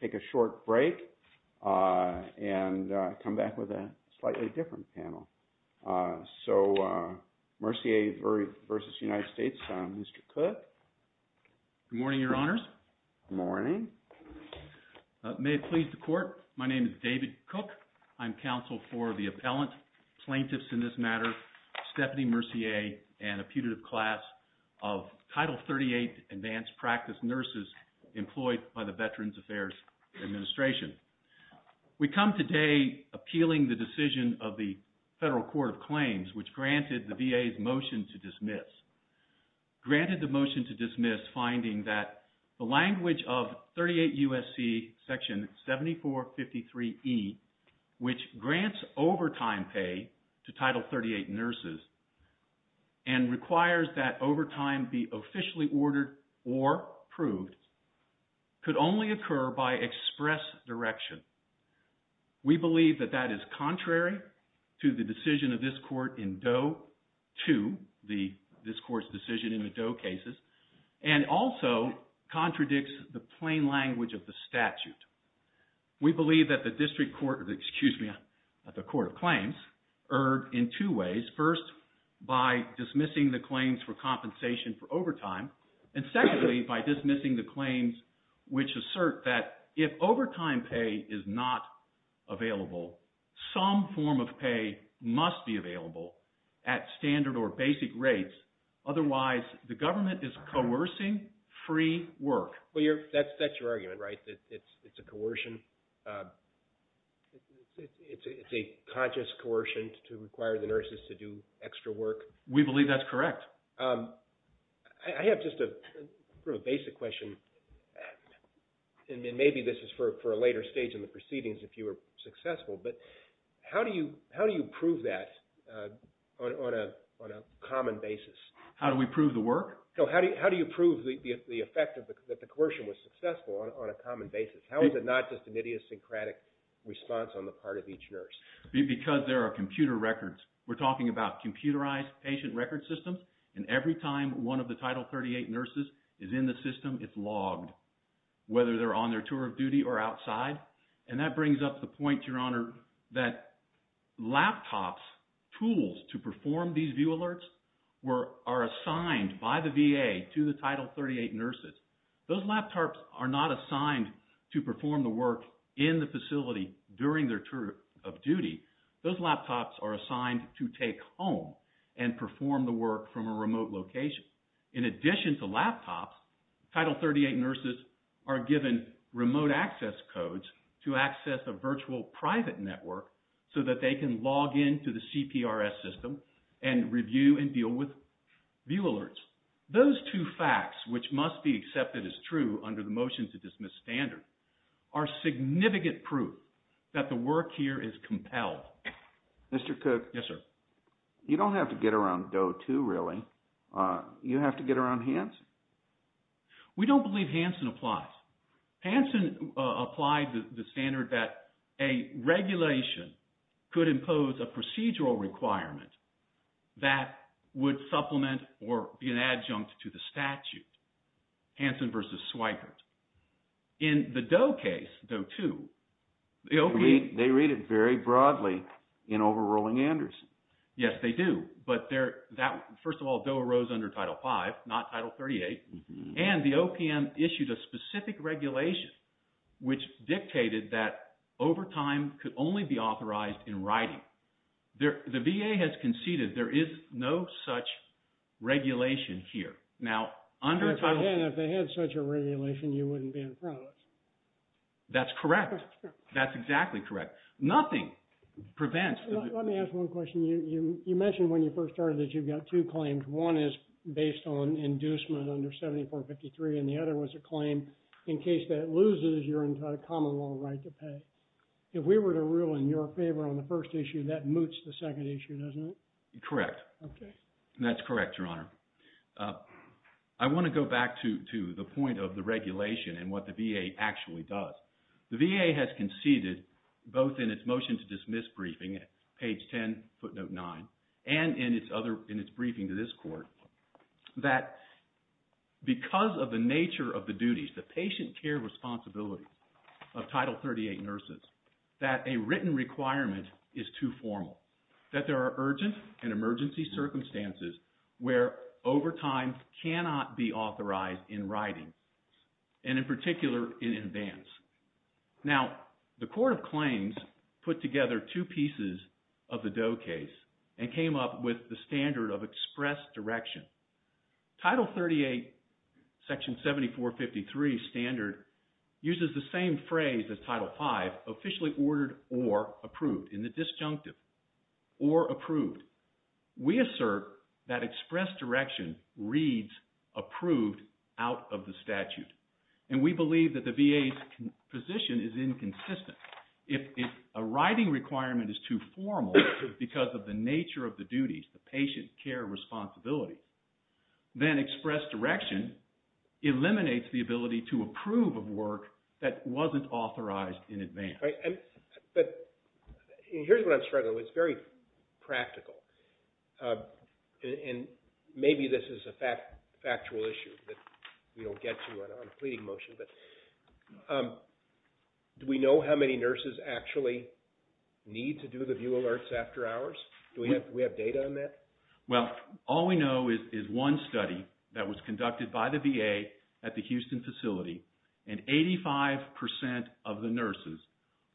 take a short break, and come back with a slightly different panel. So, Mercier v. United States, Mr. Cook. Good morning, Your Honors. Good morning. May it please the Court, my name is David Cook. I'm counsel for the appellant, plaintiffs in this matter, Stephanie Mercier, and a putative class of Title 38 advanced practice nurses employed by the Veterans Affairs Administration. We come today appealing the decision of the Federal Court of Claims, which granted the VA's motion to dismiss. Granted the motion to dismiss, finding that the language of 38 U.S.C. Section 7453E, which grants overtime pay to Title 38 nurses, and requires that overtime be officially ordered or approved, could only occur by express direction. We believe that that is contrary to the decision of this Court in Doe 2, this Court's decision in the Doe cases, and also contradicts the in two ways. First, by dismissing the claims for compensation for overtime, and secondly by dismissing the claims which assert that if overtime pay is not available, some form of pay must be available at standard or basic rates. Otherwise, the government is coercing free work. Well, that's your argument, right? It's a coercion. It's a conscious coercion to require the nurses to do extra work. We believe that's correct. I have just a basic question, and maybe this is for a later stage in the proceedings if you were successful, but how do you prove that on a common basis? How do we prove the work? No, how do you prove the effect that the coercion was successful on a common basis? How is it not just an idiosyncratic response on the part of each nurse? Because there are computer records. We're talking about computerized patient record systems, and every time one of the Title 38 nurses is in the system, it's logged, whether they're on their tour of duty or outside. And that brings up the point, Your Honor, that laptops, tools to perform these view alerts are assigned by the VA to the Title 38 nurses. Those laptops are not assigned to perform the work in the facility during their tour of duty. Those laptops are assigned to take home and perform the work from a remote location. In addition to laptops, Title 38 nurses are given remote access codes to access a virtual private network so that they can log in to the CPRS system and review and deal with view alerts. Those two facts, which must be accepted as true under the motion to dismiss standard, are significant proof that the work here is compelled. Mr. Cook. Yes, sir. You don't have to get around Doe too, really. You have to get around Hanson. We don't believe Hanson applies. Hanson applied the standard that a regulation could impose a procedural requirement that would supplement or be an adjunct to the statute. Hanson versus Swipert. In the Doe case, Doe 2, the OPM... They read it very broadly in overruling Anderson. Yes, they do. But first of all, Doe arose under Title 5, not Title 38. And the OPM issued a specific regulation which dictated that overtime could only be authorized in writing. The VA has conceded there is no such regulation here. Now, under Title... If they had such a regulation, you wouldn't be in front of us. That's correct. That's exactly correct. Nothing prevents... Let me ask one question. You mentioned when you first started that you've got two claims. One is based on inducement under 7453 and the other was a claim in case that loses your entire common law right to pay. If we were to rule in your favor on the first issue, that moots the second issue, doesn't it? Correct. That's correct, Your Honor. I want to go back to the point of the regulation and what the VA actually does. The VA has conceded both in its motion to dismiss briefing at page 10, footnote 9, and in its briefing to this court, that because of the nature of the duties, the patient care responsibility of Title 38 nurses, that a written requirement is too formal, that there are urgent and emergency circumstances where overtime cannot be authorized in writing, and in particular, in advance. Now, the court of claims put together two pieces of the Doe case and came up with the standard of express direction. Title 38, section 7453 standard, uses the same phrase as Title 5, officially ordered or approved, in the disjunctive, or approved. We assert that express direction reads approved out of the statute. And we believe that the VA's position is inconsistent. If a writing requirement is too formal because of the nature of the duties, the patient care responsibility, then express direction eliminates the ability to approve of work that wasn't authorized in advance. But here's what I'm struggling with. It's very practical. And maybe this is a factual issue that we don't get to on a pleading motion, but do we know how many nurses actually need to do the view alerts after hours? Do we have data on that? Well, all we know is one study that was conducted by the VA at the Houston facility, and 85% of the nurses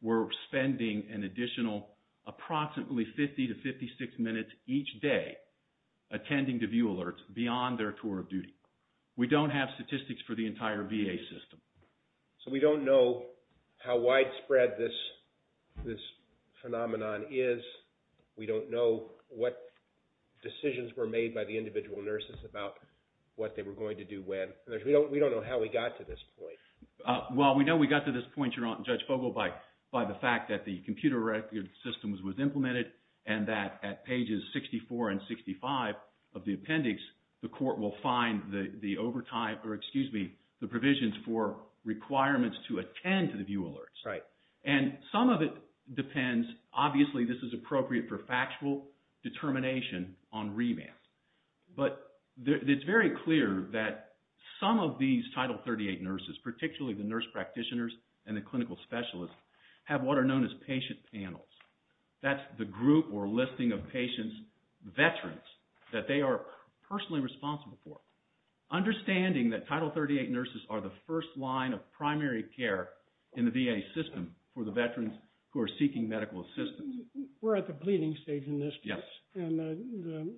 were spending an additional approximately 50 to 56 minutes each day attending the view alerts beyond their tour of duty. We don't have statistics for the entire VA system. So we don't know how widespread this phenomenon is. We don't know what decisions were made by the individual nurses about what they were going to do when. We don't know how we got to this point. Well, we know we got to this point, Your Honor, Judge Fogle, by the fact that the computer record system was implemented and that at pages 64 and 65 of the appendix, the court will find the overtime, or excuse me, the provisions for requirements to attend to the view alerts. Right. And some of it depends. Obviously, this is appropriate for factual determination on remand. But it's very clear that some of these Title 38 nurses, particularly the nurse practitioners and the clinical specialists, have what are known as patient panels. That's the group or listing of patients, veterans, that they are personally responsible for. Understanding that Title 38 nurses are the first line of primary care in the VA system for the veterans who are seeking medical assistance. We're at the pleading stage in this case. Yes. And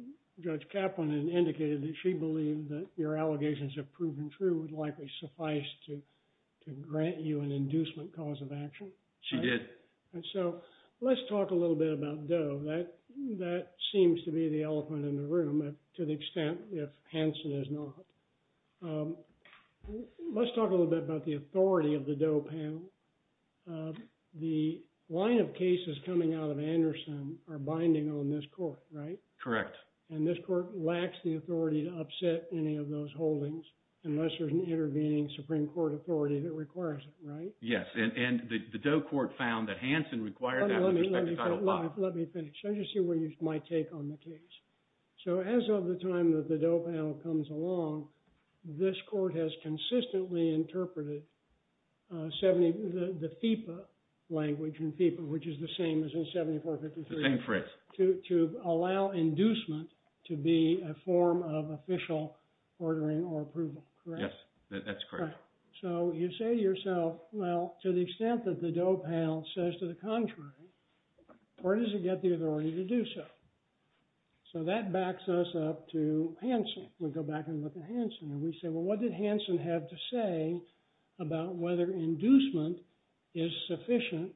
Judge Kaplan indicated that she believed that your allegations have proven true would likely suffice to grant you an inducement cause of action. She did. And so let's talk a little bit about Doe. That seems to be the elephant in the room to the extent if Hanson is not. Let's talk a little bit about the authority of the Doe panel. The line of cases coming out of Anderson are binding on this court, right? Correct. And this court lacks the authority to upset any of those holdings unless there's an intervening Supreme Court authority that requires it, right? Yes. And the Doe court found that Hanson required that with respect to Title V. Let me finish. Let me just hear my take on the case. So as of the time that the Doe panel comes along, this court has consistently interpreted the FEPA language in FEPA, which is the same as in 7453. The same phrase. To allow inducement to be a form of official ordering or approval, correct? Yes. That's correct. So you say to yourself, well, to the extent that the Doe panel says to the contrary, where does it get the authority to do so? So that backs us up to Hanson. We go back and look at Hanson and we say, well, what did Hanson have to say about whether inducement is sufficient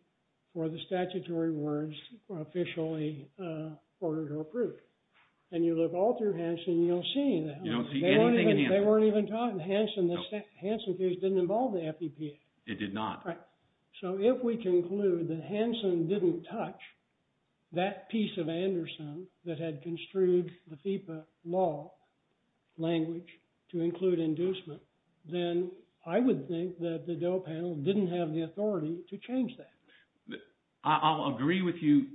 for the statutory words officially ordered or approved? And you look all through Hanson and you don't see any of that. You don't see anything in him. They weren't even talking. Hanson case didn't involve the FEPA. It did not. So if we conclude that Hanson didn't touch that piece of Anderson that had construed the FEPA law language to include inducement, then I would think that the Doe panel didn't have the authority to change that. I'll agree with you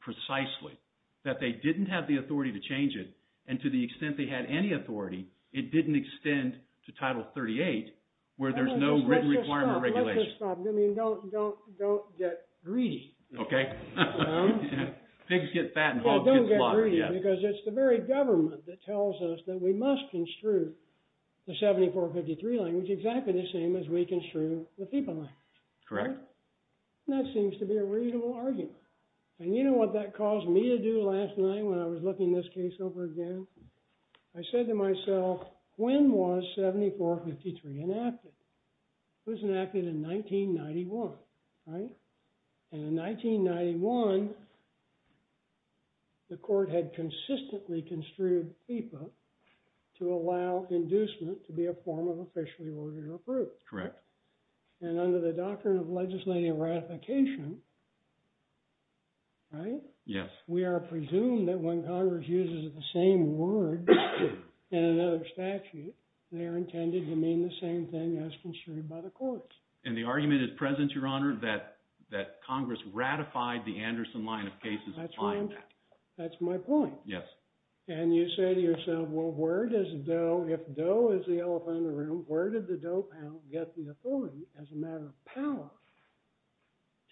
precisely that they didn't have the authority to change it. And to the extent they had any authority, it didn't extend to Title 38 where there's no written requirement or regulation. Let's just stop. Don't get greedy. Okay. Pigs get fat and hogs get slaughtered. Because it's the very government that tells us that we must construe the 7453 language exactly the same as we construe the FEPA language. Correct. And that seems to be a reasonable argument. And you know what that caused me to do last night when I was looking this case over again? I said to myself, when was 7453 enacted? It was enacted in 1991, right? And in 1991, the court had consistently construed FEPA to allow inducement to be a form of officially ordered or approved. Correct. And under the doctrine of legislative ratification, right? Yes. We are presumed that when Congress uses the same word in another statute, they are intended to mean the same thing as construed by the courts. And the argument is present, Your Honor, that Congress ratified the Anderson line of cases applying that. That's my point. Yes. And you say to yourself, well, if Doe is the elephant in the room, where did the Doe Pound get the authority as a matter of power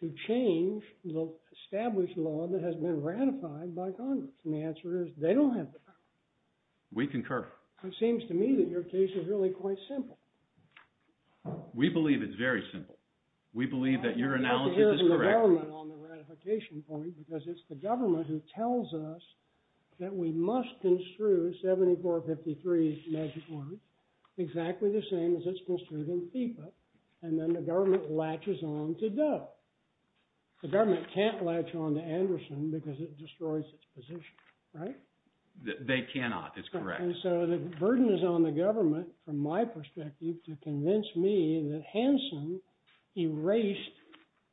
to change the established law that has been ratified by Congress? And the answer is they don't have the power. We concur. It seems to me that your case is really quite simple. We believe it's very simple. We believe that your analysis is correct. It's the government on the ratification point, because it's the government who tells us that we must construe 7453, magic word, exactly the same as it's construed in FEPA. And then the government latches on to Doe. The government can't latch on to Anderson because it destroys its position, right? They cannot. It's correct. And so the burden is on the government, from my perspective, to convince me that Hansen erased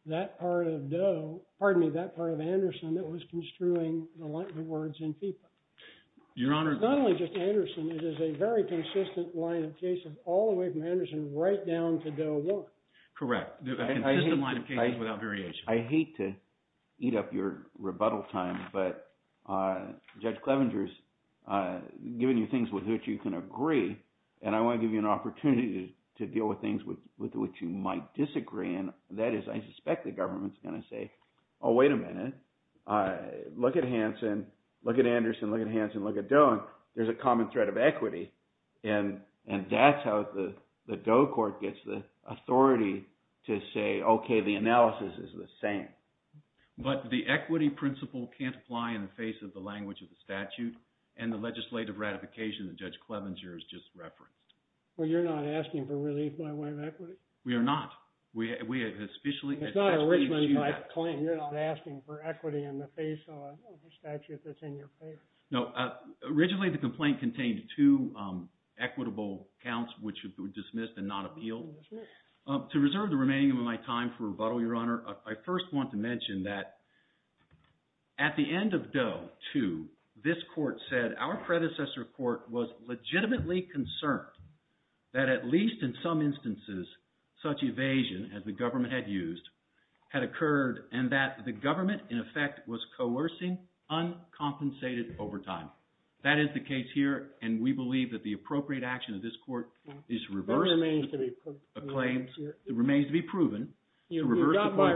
that part of Doe – pardon me, that part of Anderson that was construing the words in FEPA. Your Honor – Not only just Anderson, it is a very consistent line of cases all the way from Anderson right down to Doe 1. Correct. A consistent line of cases without variation. I hate to eat up your rebuttal time, but Judge Clevenger has given you things with which you can agree, and I want to give you an opportunity to deal with things with which you might disagree, and that is I suspect the government is going to say, oh, wait a minute. Look at Hansen. Look at Anderson. Look at Hansen. Look at Doe. But the equity principle can't apply in the face of the language of the statute and the legislative ratification that Judge Clevenger has just referenced. Well, you're not asking for relief by way of equity? We are not. It's not originally my claim. You're not asking for equity in the face of a statute that's in your favor. No. Originally, the complaint contained two equitable counts which were dismissed and not appealed. To reserve the remaining of my time for rebuttal, Your Honor, I first want to mention that at the end of Doe 2, this court said our predecessor court was legitimately concerned that at least in some instances such evasion as the government had used had occurred and that the government, in effect, was coercing uncompensated overtime. That is the case here, and we believe that the appropriate action of this court is reversed. It remains to be proven. It remains to be proven. You got my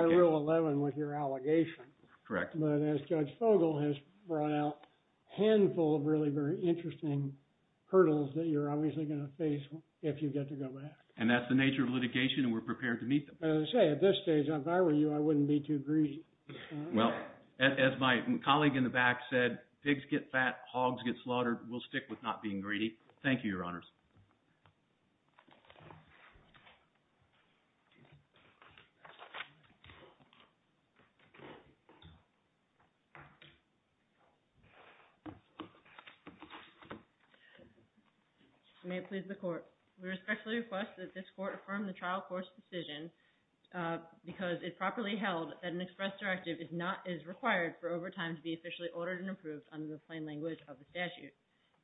rule 11 with your allegation. Correct. But as Judge Fogel has brought out, a handful of really very interesting hurdles that you're obviously going to face if you get to go back. And that's the nature of litigation, and we're prepared to meet them. As I say, at this stage, if I were you, I wouldn't be too greedy. Well, as my colleague in the back said, pigs get fat, hogs get slaughtered. We'll stick with not being greedy. Thank you, Your Honors. May it please the Court. We respectfully request that this court affirm the trial court's decision because it properly held that an express directive is required for overtime to be officially ordered and approved under the plain language of the statute.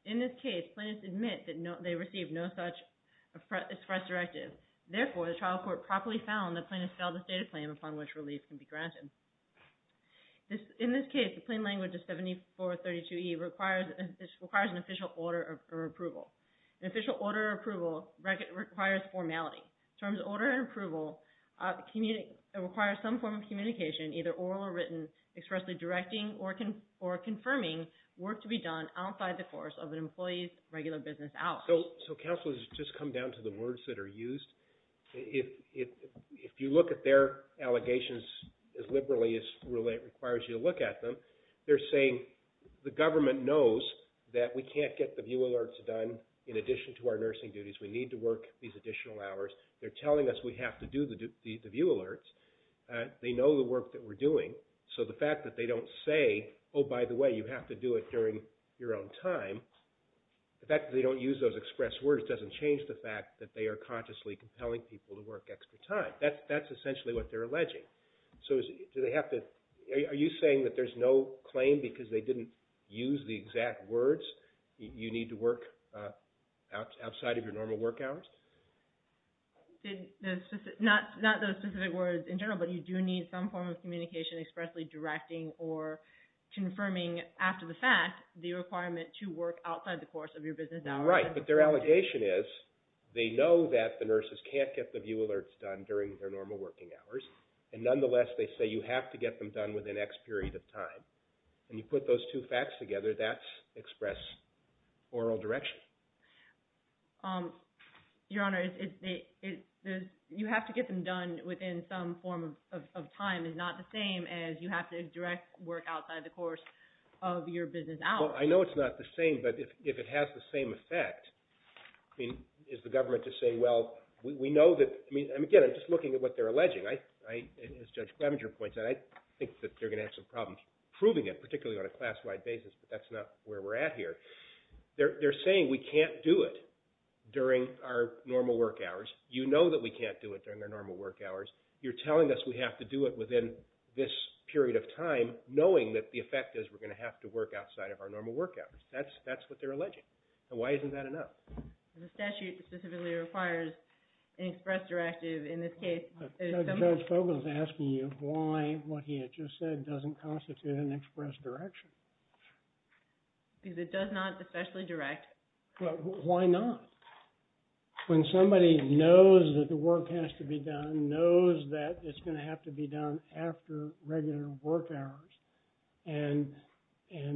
In this case, plaintiffs admit that they received no such express directive. Therefore, the trial court properly found that plaintiffs failed to state a claim upon which relief can be granted. In this case, the plain language of 7432E requires an official order of approval. An official order of approval requires formality. Terms of order and approval require some form of communication, either oral or written, expressly directing or confirming work to be done outside the course of an employee's regular business hours. So, Counselors, just come down to the words that are used. If you look at their allegations as liberally as it requires you to look at them, they're saying the government knows that we can't get the view alerts done in addition to our nursing duties. We need to work these additional hours. They're telling us we have to do the view alerts. They know the work that we're doing. So the fact that they don't say, oh, by the way, you have to do it during your own time, the fact that they don't use those express words doesn't change the fact that they are consciously compelling people to work extra time. That's essentially what they're alleging. So do they have to – are you saying that there's no claim because they didn't use the exact words? You need to work outside of your normal work hours? Not those specific words in general, but you do need some form of communication expressly directing or confirming after the fact the requirement to work outside the course of your business hours. Right. But their allegation is they know that the nurses can't get the view alerts done during their normal working hours. And nonetheless, they say you have to get them done within X period of time. And you put those two facts together, that's express oral direction. Your Honor, you have to get them done within some form of time is not the same as you have to direct work outside the course of your business hours. Well, I know it's not the same, but if it has the same effect, is the government to say, well, we know that – again, I'm just looking at what they're alleging. As Judge Clevenger points out, I think that they're going to have some problems proving it, particularly on a class-wide basis, but that's not where we're at here. They're saying we can't do it during our normal work hours. You know that we can't do it during our normal work hours. You're telling us we have to do it within this period of time knowing that the effect is we're going to have to work outside of our normal work hours. That's what they're alleging. And why isn't that enough? The statute specifically requires an express directive in this case. Judge Fogle is asking you why what he had just said doesn't constitute an express direction. Because it does not especially direct. Why not? When somebody knows that the work has to be done, knows that it's going to have to be done after regular work hours, and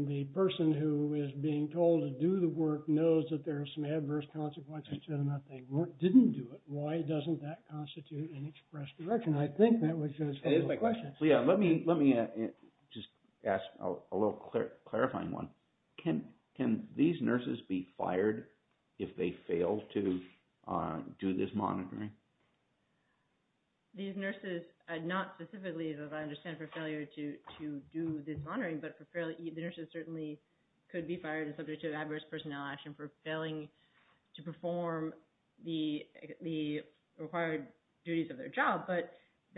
the person who is being told to do the work knows that there are some adverse consequences to them if they didn't do it. Why doesn't that constitute an express direction? I think that was Judge Fogle's question. Let me just ask a little clarifying one. Can these nurses be fired if they fail to do this monitoring? These nurses are not specifically, as I understand, for failure to do this monitoring. But the nurses certainly could be fired and subject to adverse personnel action for failing to perform the required duties of their job.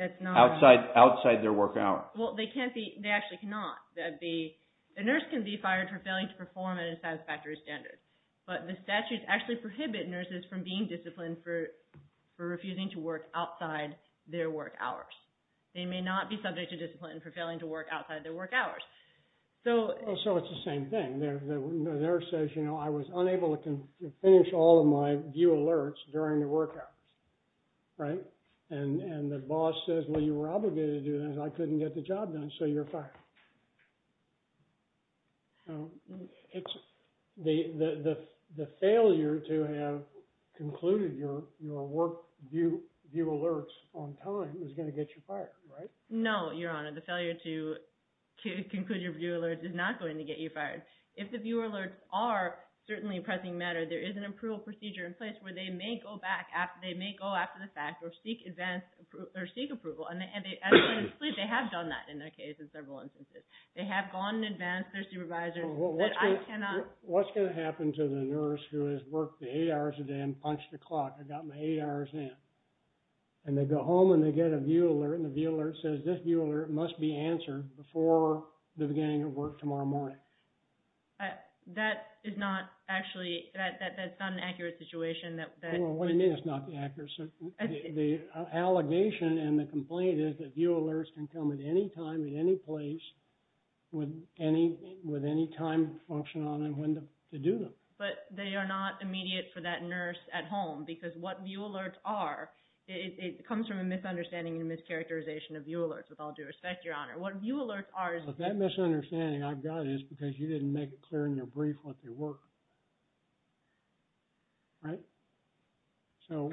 Outside their work hours. They actually cannot. A nurse can be fired for failing to perform at a satisfactory standard. But the statutes actually prohibit nurses from being disciplined for refusing to work outside their work hours. They may not be subject to discipline for failing to work outside their work hours. So it's the same thing. The nurse says, I was unable to finish all of my view alerts during the work hours. And the boss says, well, you were obligated to do this. I couldn't get the job done, so you're fired. The failure to have concluded your work view alerts on time is going to get you fired, right? No, Your Honor. The failure to conclude your view alerts is not going to get you fired. If the view alerts are certainly pressing matter, there is an approval procedure in place where they may go back. They may go after the fact or seek approval. And they have done that in their case in several instances. They have gone and advanced their supervisor. What's going to happen to the nurse who has worked eight hours a day and punched the clock? I got my eight hours in. And they go home and they get a view alert. And the view alert says this view alert must be answered before the beginning of work tomorrow morning. That is not actually, that's not an accurate situation. What do you mean it's not accurate? The allegation and the complaint is that view alerts can come at any time, at any place, with any time function on them, when to do them. But they are not immediate for that nurse at home. Because what view alerts are, it comes from a misunderstanding and a mischaracterization of view alerts, with all due respect, Your Honor. What view alerts are is But that misunderstanding I've got is because you didn't make it clear in your brief what they were. Right? So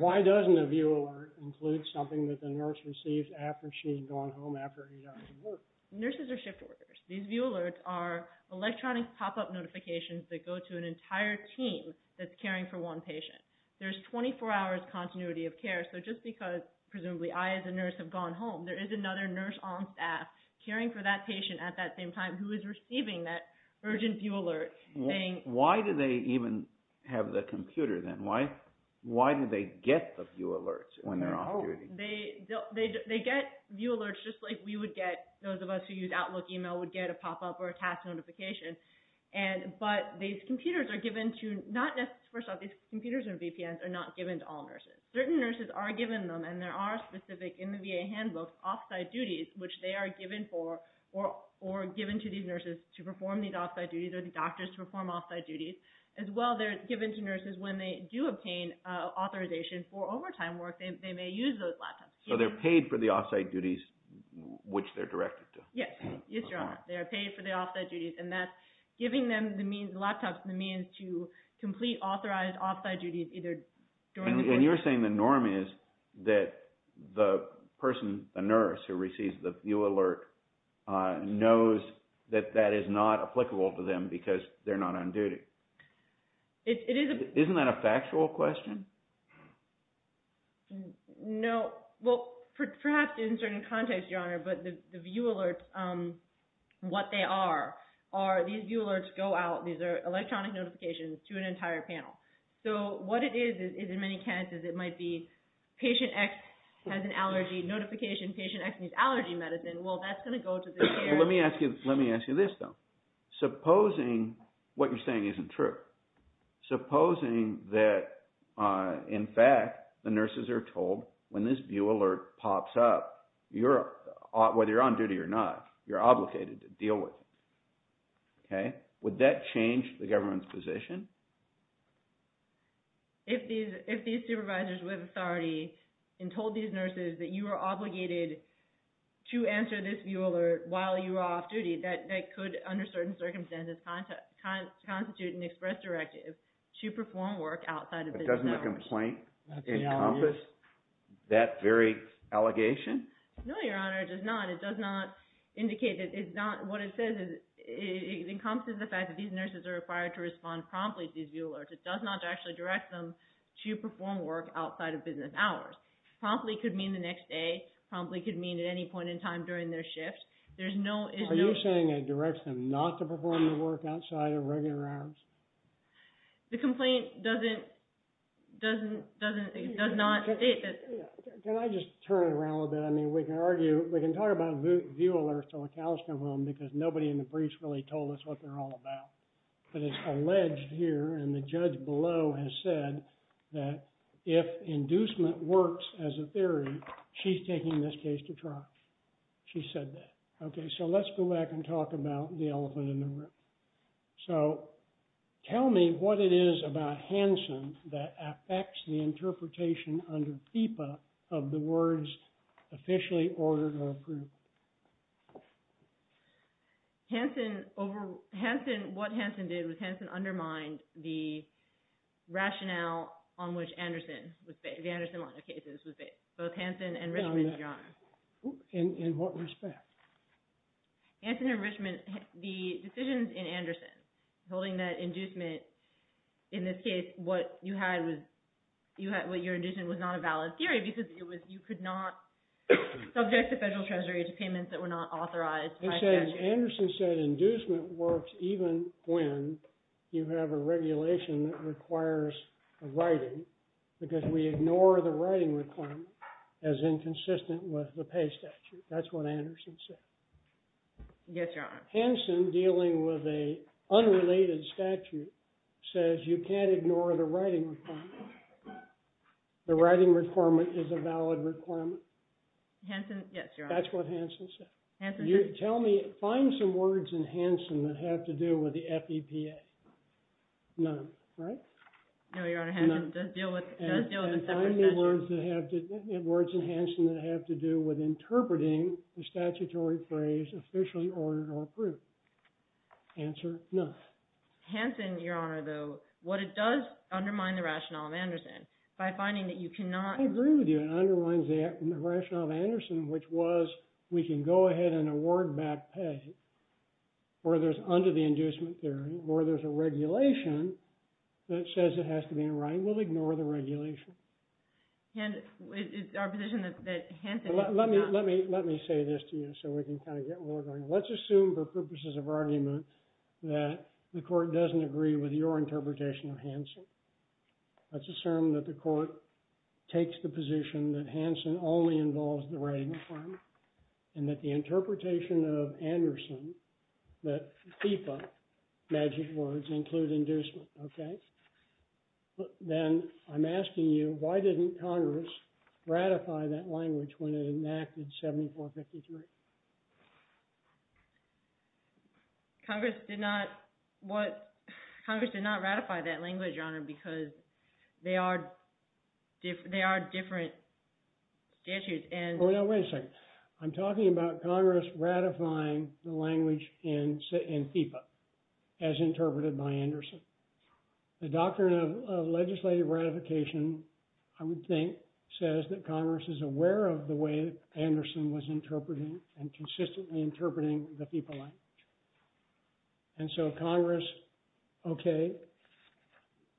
why doesn't a view alert include something that the nurse receives after she's gone home after eight hours of work? Nurses are shift workers. These view alerts are electronic pop-up notifications that go to an entire team that's caring for one patient. There's 24 hours continuity of care. So just because, presumably, I as a nurse have gone home, there is another nurse on staff caring for that patient at that same time who is receiving that urgent view alert. Why do they even have the computer then? Why do they get the view alerts when they're off duty? They get view alerts just like we would get, those of us who use Outlook email would get a pop-up or a task notification. But these computers are given to, first off, these computers and VPNs are not given to all nurses. Certain nurses are given them, and there are specific, in the VA handbook, off-site duties, which they are given for or given to these nurses to perform these off-site duties or the doctors to perform off-site duties. As well, they're given to nurses when they do obtain authorization for overtime work. They may use those laptops. So they're paid for the off-site duties, which they're directed to. Yes. Yes, Your Honor. They are paid for the off-site duties, and that's giving them the means, the laptops, the means to complete authorized off-site duties either during the day. And you're saying the norm is that the person, the nurse who receives the view alert, knows that that is not applicable to them because they're not on duty. Isn't that a factual question? No. Well, perhaps in certain contexts, Your Honor, but the view alerts, what they are, are these view alerts go out. These are electronic notifications to an entire panel. So what it is, is in many cases, it might be patient X has an allergy notification. Patient X needs allergy medicine. Well, that's going to go to the care. Let me ask you this, though. Supposing what you're saying isn't true. Supposing that, in fact, the nurses are told when this view alert pops up, whether you're on duty or not, you're obligated to deal with it. Would that change the government's position? If these supervisors with authority told these nurses that you are obligated to answer this view alert while you are off duty, that could, under certain circumstances, constitute an express directive to perform work outside of business hours. Doesn't the complaint encompass that very allegation? No, Your Honor, it does not. What it says is it encompasses the fact that these nurses are required to respond promptly to these view alerts. It does not actually direct them to perform work outside of business hours. Promptly could mean the next day. Promptly could mean at any point in time during their shift. Are you saying it directs them not to perform the work outside of regular hours? The complaint does not state that. Can I just turn it around a little bit? I mean, we can argue, we can talk about view alerts till the cows come home because nobody in the briefs really told us what they're all about. But it's alleged here, and the judge below has said that if inducement works as a theory, she's taking this case to trial. She said that. Okay, so let's go back and talk about the elephant in the room. So tell me what it is about Hanson that affects the interpretation under FIPA of the words officially ordered or approved. What Hanson did was Hanson undermined the rationale on which the Anderson case was based. Both Hanson and Richmond, Your Honor. In what respect? Hanson and Richmond, the decisions in Anderson holding that inducement, in this case, what you had was not a valid theory because you could not subject the federal treasury to payments that were not authorized by statute. Yes, Your Honor. Hanson, dealing with an unrelated statute, says you can't ignore the writing requirement. The writing requirement is a valid requirement. Hanson, yes, Your Honor. That's what Hanson said. Tell me, find some words in Hanson that have to do with the FEPA. None, right? No, Your Honor. And find words in Hanson that have to do with interpreting the statutory phrase officially ordered or approved. Answer, none. Hanson, Your Honor, though, what it does undermine the rationale of Anderson by finding that you cannot... I agree with you. It undermines the rationale of Anderson, which was we can go ahead and award back pay, or there's under the inducement theory, or there's a regulation that says it has to be in writing. We'll ignore the regulation. It's our position that Hanson... Let me say this to you so we can kind of get where we're going. Let's assume, for purposes of argument, that the court doesn't agree with your interpretation of Hanson. Let's assume that the court takes the position that Hanson only involves the writing requirement, and that the interpretation of Anderson, that FEPA magic words include inducement, okay? Then I'm asking you, why didn't Congress ratify that language when it enacted 7453? Congress did not... Congress did not ratify that language, Your Honor, because they are different statutes, and... Wait a second. I'm talking about Congress ratifying the language in FEPA as interpreted by Anderson. The doctrine of legislative ratification, I would think, says that Congress is aware of the way Anderson was interpreting and consistently interpreting the FEPA language. And so Congress, okay,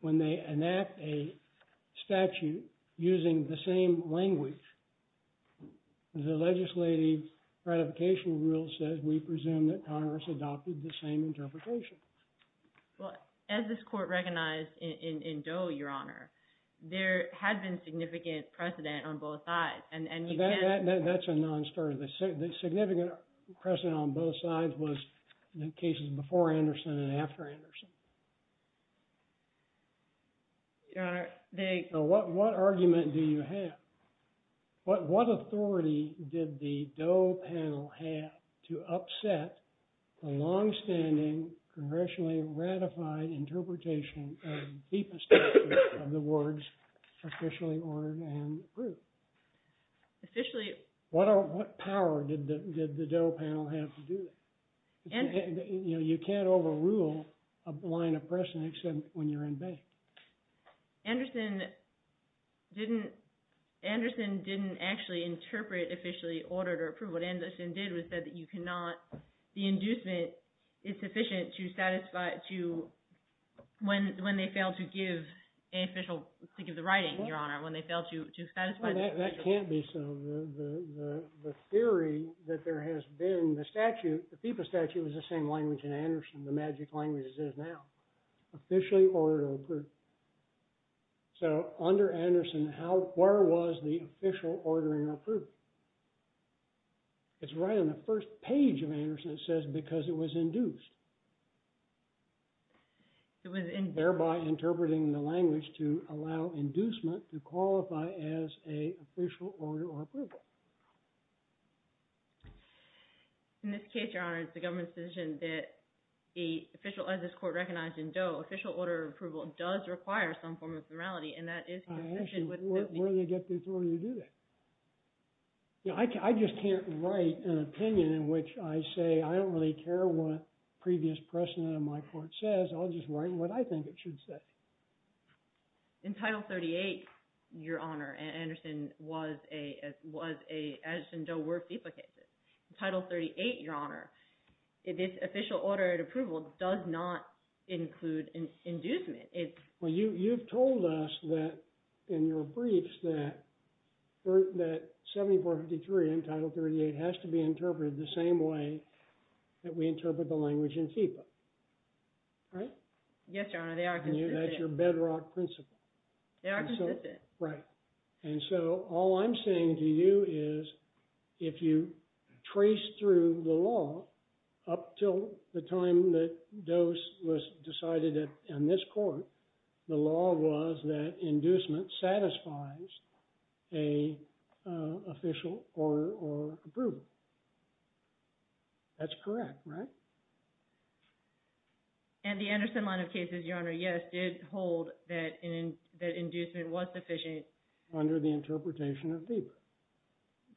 when they enact a statute using the same language, the legislative ratification rule says we presume that Congress adopted the same interpretation. Well, as this court recognized in Doe, Your Honor, there had been significant precedent on both sides, and... That's a non-starter. The significant precedent on both sides was the cases before Anderson and after Anderson. Your Honor, they... So what argument do you have? What authority did the Doe panel have to upset the longstanding, congressionally ratified interpretation of the FEPA statute of the words officially ordered and approved? Officially... What power did the Doe panel have to do that? And... You know, you can't overrule a line of precedent except when you're in bank. Anderson didn't actually interpret officially ordered or approved. What Anderson did was said that you cannot... The inducement is sufficient to satisfy to... When they failed to give the writing, Your Honor, when they failed to satisfy... That can't be so. The theory that there has been... The statute, the FEPA statute was the same language in Anderson, the magic language as it is now. Officially ordered or approved. So under Anderson, how... Where was the official ordering or approval? It's right on the first page of Anderson. It says because it was induced. It was induced. Thereby interpreting the language to allow inducement to qualify as a official order or approval. In this case, Your Honor, it's the government's decision that the official... As this court recognized in Doe, official order approval does require some form of normality. And that is consistent with... I ask you, where do they get the authority to do that? You know, I just can't write an opinion in which I say I don't really care what previous precedent of my court says. I'll just write what I think it should say. In Title 38, Your Honor, Anderson was a... As in Doe were FEPA cases. In Title 38, Your Honor, this official order of approval does not include an inducement. It's... Well, you've told us that in your briefs that 7453 in Title 38 has to be interpreted the same way that we interpret the language in FEPA. Right? Yes, Your Honor, they are consistent. That's your bedrock principle. They are consistent. Right. And so all I'm saying to you is if you trace through the law up till the time that Doe was decided in this court, the law was that inducement satisfies a official order or approval. That's correct, right? And the Anderson line of cases, Your Honor, yes, did hold that inducement was sufficient... Under the interpretation of FEPA.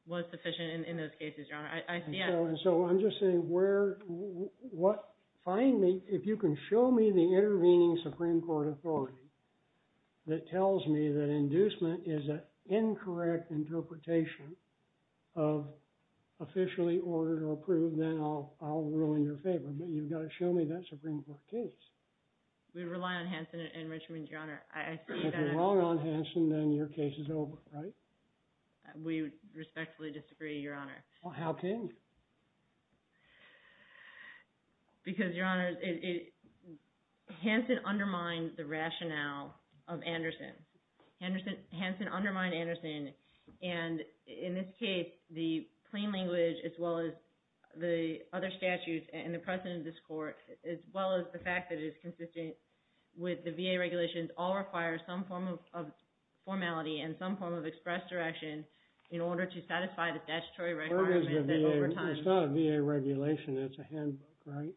...was sufficient in those cases, Your Honor. I see... And so I'm just saying where... If you can show me the intervening Supreme Court authority that tells me that inducement is an incorrect interpretation of officially ordered or approved, then I'll rule in your favor. But you've got to show me that Supreme Court case. We rely on Hanson and Richmond, Your Honor. If you rely on Hanson, then your case is over, right? We respectfully disagree, Your Honor. Well, how can you? Because, Your Honor, Hanson undermined the rationale of Anderson. Hanson undermined Anderson. And in this case, the plain language as well as the other statutes and the precedent of this court, as well as the fact that it is consistent with the VA regulations, all require some form of formality and some form of express direction in order to satisfy the statutory requirements... It's not a VA regulation. It's a handbook, right?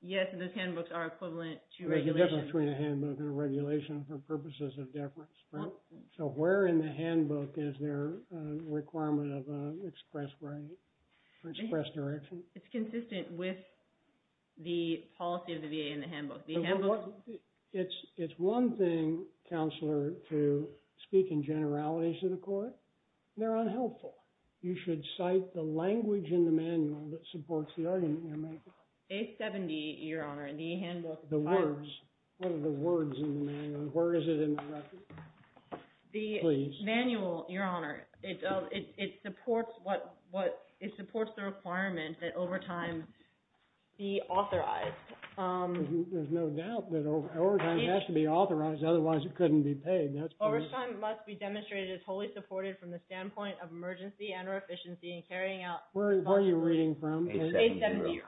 Yes, and those handbooks are equivalent to regulations. They're different between a handbook and a regulation for purposes of deference, right? So where in the handbook is there a requirement of express right or express direction? It's consistent with the policy of the VA in the handbook. The handbook... It's one thing, Counselor, to speak in generalities to the court. They're unhelpful. You should cite the language in the manual that supports the argument you're making. A70, Your Honor, in the handbook. The words. What are the words in the manual? Where is it in the record? The manual, Your Honor, it supports the requirement that overtime be authorized. There's no doubt that overtime has to be authorized, otherwise it couldn't be paid. Overtime must be demonstrated as wholly supported from the standpoint of emergency and or efficiency in carrying out... Where are you reading from? A70, Your Honor.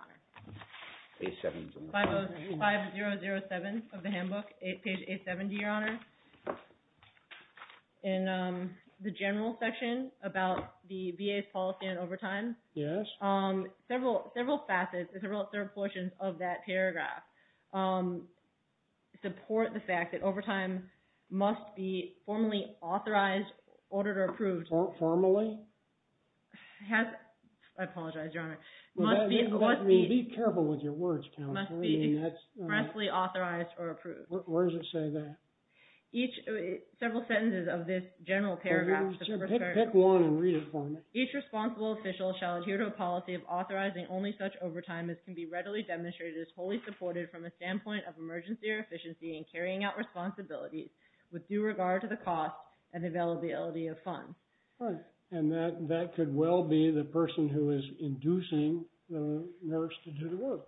A70. 5007 of the handbook, page A70, Your Honor. In the general section about the VA's policy on overtime... Yes. Several facets, several portions of that paragraph support the fact that overtime must be formally authorized, ordered, or approved. Formally? I apologize, Your Honor. Be careful with your words, Counselor. It must be expressly authorized or approved. Where does it say that? Several sentences of this general paragraph. Pick one and read it for me. Each responsible official shall adhere to a policy of authorizing only such overtime as can be readily demonstrated as wholly supported from a standpoint of emergency or efficiency in carrying out responsibilities with due regard to the cost and availability of funds. And that could well be the person who is inducing the nurse to do the work.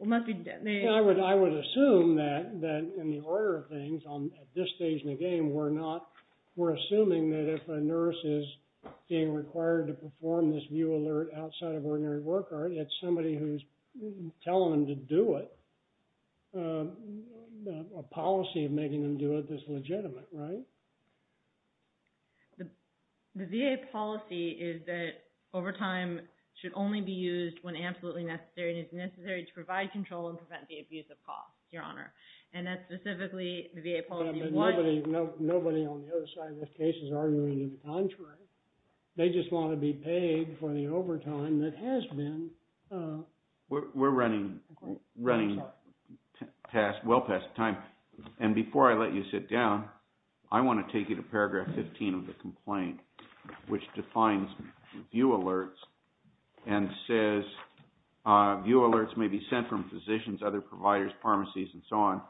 It must be... I would assume that in the order of things, at this stage in the game, we're assuming that if a nurse is being required to perform this view alert outside of ordinary work, it's somebody who's telling them to do it. A policy of making them do it is legitimate, right? The VA policy is that overtime should only be used when absolutely necessary, and it's necessary to provide control and prevent the abuse of cost, Your Honor. And that's specifically the VA policy. Nobody on the other side of this case is arguing the contrary. They just want to be paid for the overtime that has been... We're running well past time. And before I let you sit down, I want to take you to paragraph 15 of the complaint, which defines view alerts and says view alerts may be sent from physicians, other providers, pharmacies, and so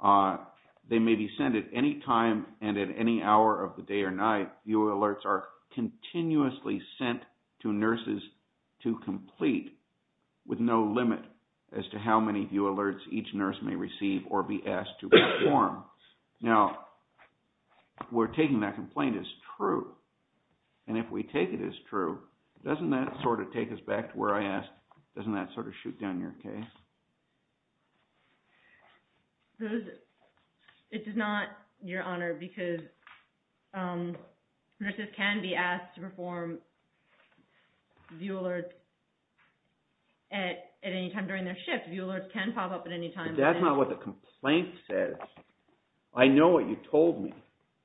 on. They may be sent at any time and at any hour of the day or night. View alerts are continuously sent to nurses to complete with no limit as to how many view alerts each nurse may receive or be asked to perform. Now, we're taking that complaint as true. And if we take it as true, doesn't that sort of take us back to where I asked? Doesn't that sort of shoot down your case? It does not, Your Honor, because nurses can be asked to perform view alerts at any time during their shift. View alerts can pop up at any time. But that's not what the complaint says. I know what you told me.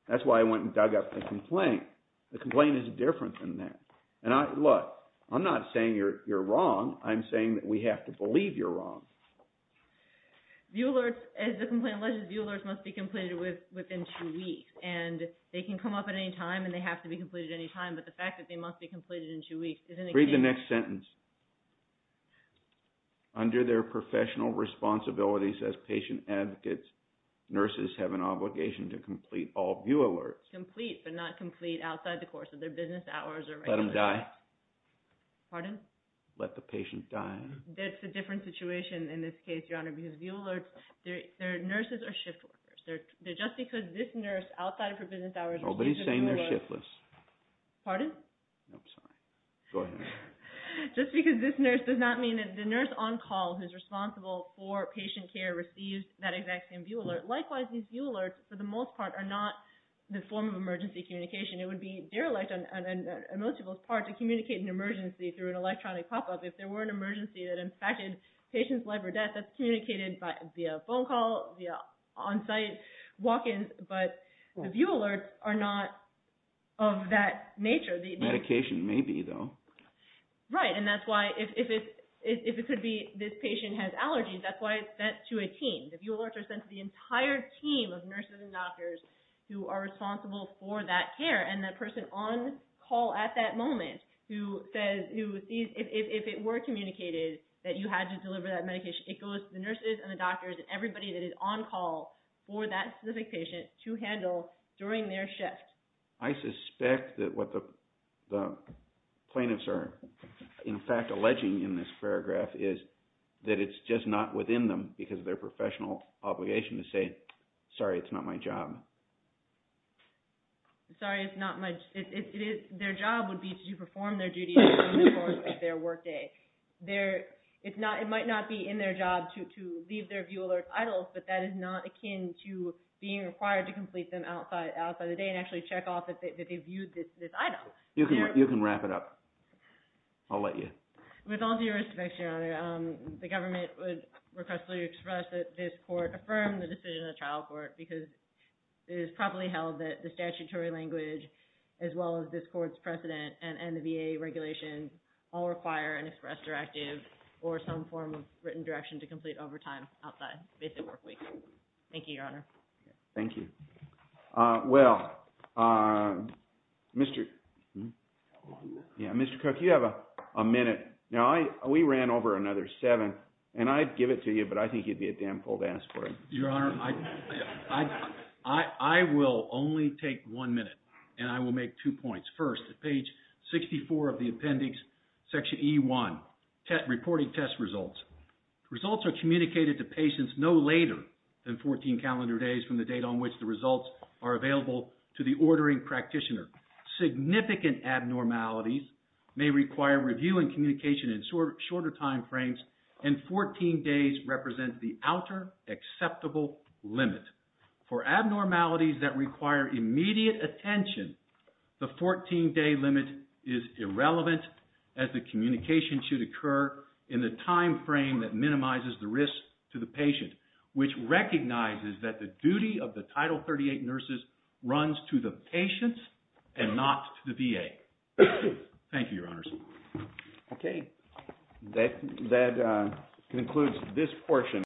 That's why I went and dug up the complaint. The complaint is different than that. And look, I'm not saying you're wrong. I'm saying that we have to believe you're wrong. View alerts, as the complaint alleges, view alerts must be completed within two weeks. And they can come up at any time, and they have to be completed at any time. But the fact that they must be completed in two weeks is an excuse. Read the next sentence. Under their professional responsibilities as patient advocates, nurses have an obligation to complete all view alerts. Complete but not complete outside the course of their business hours or regular hours. Let them die. Pardon? Let the patient die. That's a different situation in this case, Your Honor, because view alerts, they're nurses or shift workers. They're just because this nurse outside of her business hours received a view alert. Nobody's saying they're shiftless. Pardon? No, I'm sorry. Go ahead. Just because this nurse does not mean that the nurse on call who's responsible for patient care received that exact same view alert. Likewise, these view alerts, for the most part, are not the form of emergency communication. It would be derelict on most people's part to communicate an emergency through an electronic pop-up. If there were an emergency that impacted patients' life or death, that's communicated via phone call, via on-site walk-ins. But the view alerts are not of that nature. Medication may be, though. Right, and that's why if it could be this patient has allergies, that's why it's sent to a team. The view alerts are sent to the entire team of nurses and doctors who are responsible for that care. And that person on call at that moment who sees if it were communicated that you had to deliver that medication, it goes to the nurses and the doctors and everybody that is on call for that specific patient to handle during their shift. I suspect that what the plaintiffs are in fact alleging in this paragraph is that it's just not within them because of their professional obligation to say, sorry, it's not my job. Sorry, it's not my – their job would be to perform their duty during the course of their workday. It might not be in their job to leave their view alert idle, but that is not akin to being required to complete them outside of the day and actually check off if they viewed this idle. You can wrap it up. I'll let you. With all due respect, Your Honor, the government would request that you express that this court affirm the decision of the trial court because it is properly held that the statutory language as well as this court's precedent and the VA regulations all require an express directive or some form of written direction to complete overtime outside basic work week. Thank you, Your Honor. Thank you. Well, Mr. – yeah, Mr. Cook, you have a minute. Now, we ran over another seven, and I'd give it to you, but I think you'd be a damn fool to ask for it. Your Honor, I will only take one minute, and I will make two points. First, at page 64 of the appendix, section E1, reporting test results. Results are communicated to patients no later than 14 calendar days from the date on which the results are available to the ordering practitioner. Significant abnormalities may require review and communication in shorter time frames, and 14 days represents the outer acceptable limit. For abnormalities that require immediate attention, the 14-day limit is irrelevant as the communication should occur in the time frame that minimizes the risk to the patient, which recognizes that the duty of the Title 38 nurses runs to the patient and not to the VA. Thank you, Your Honors. Okay. That concludes this portion.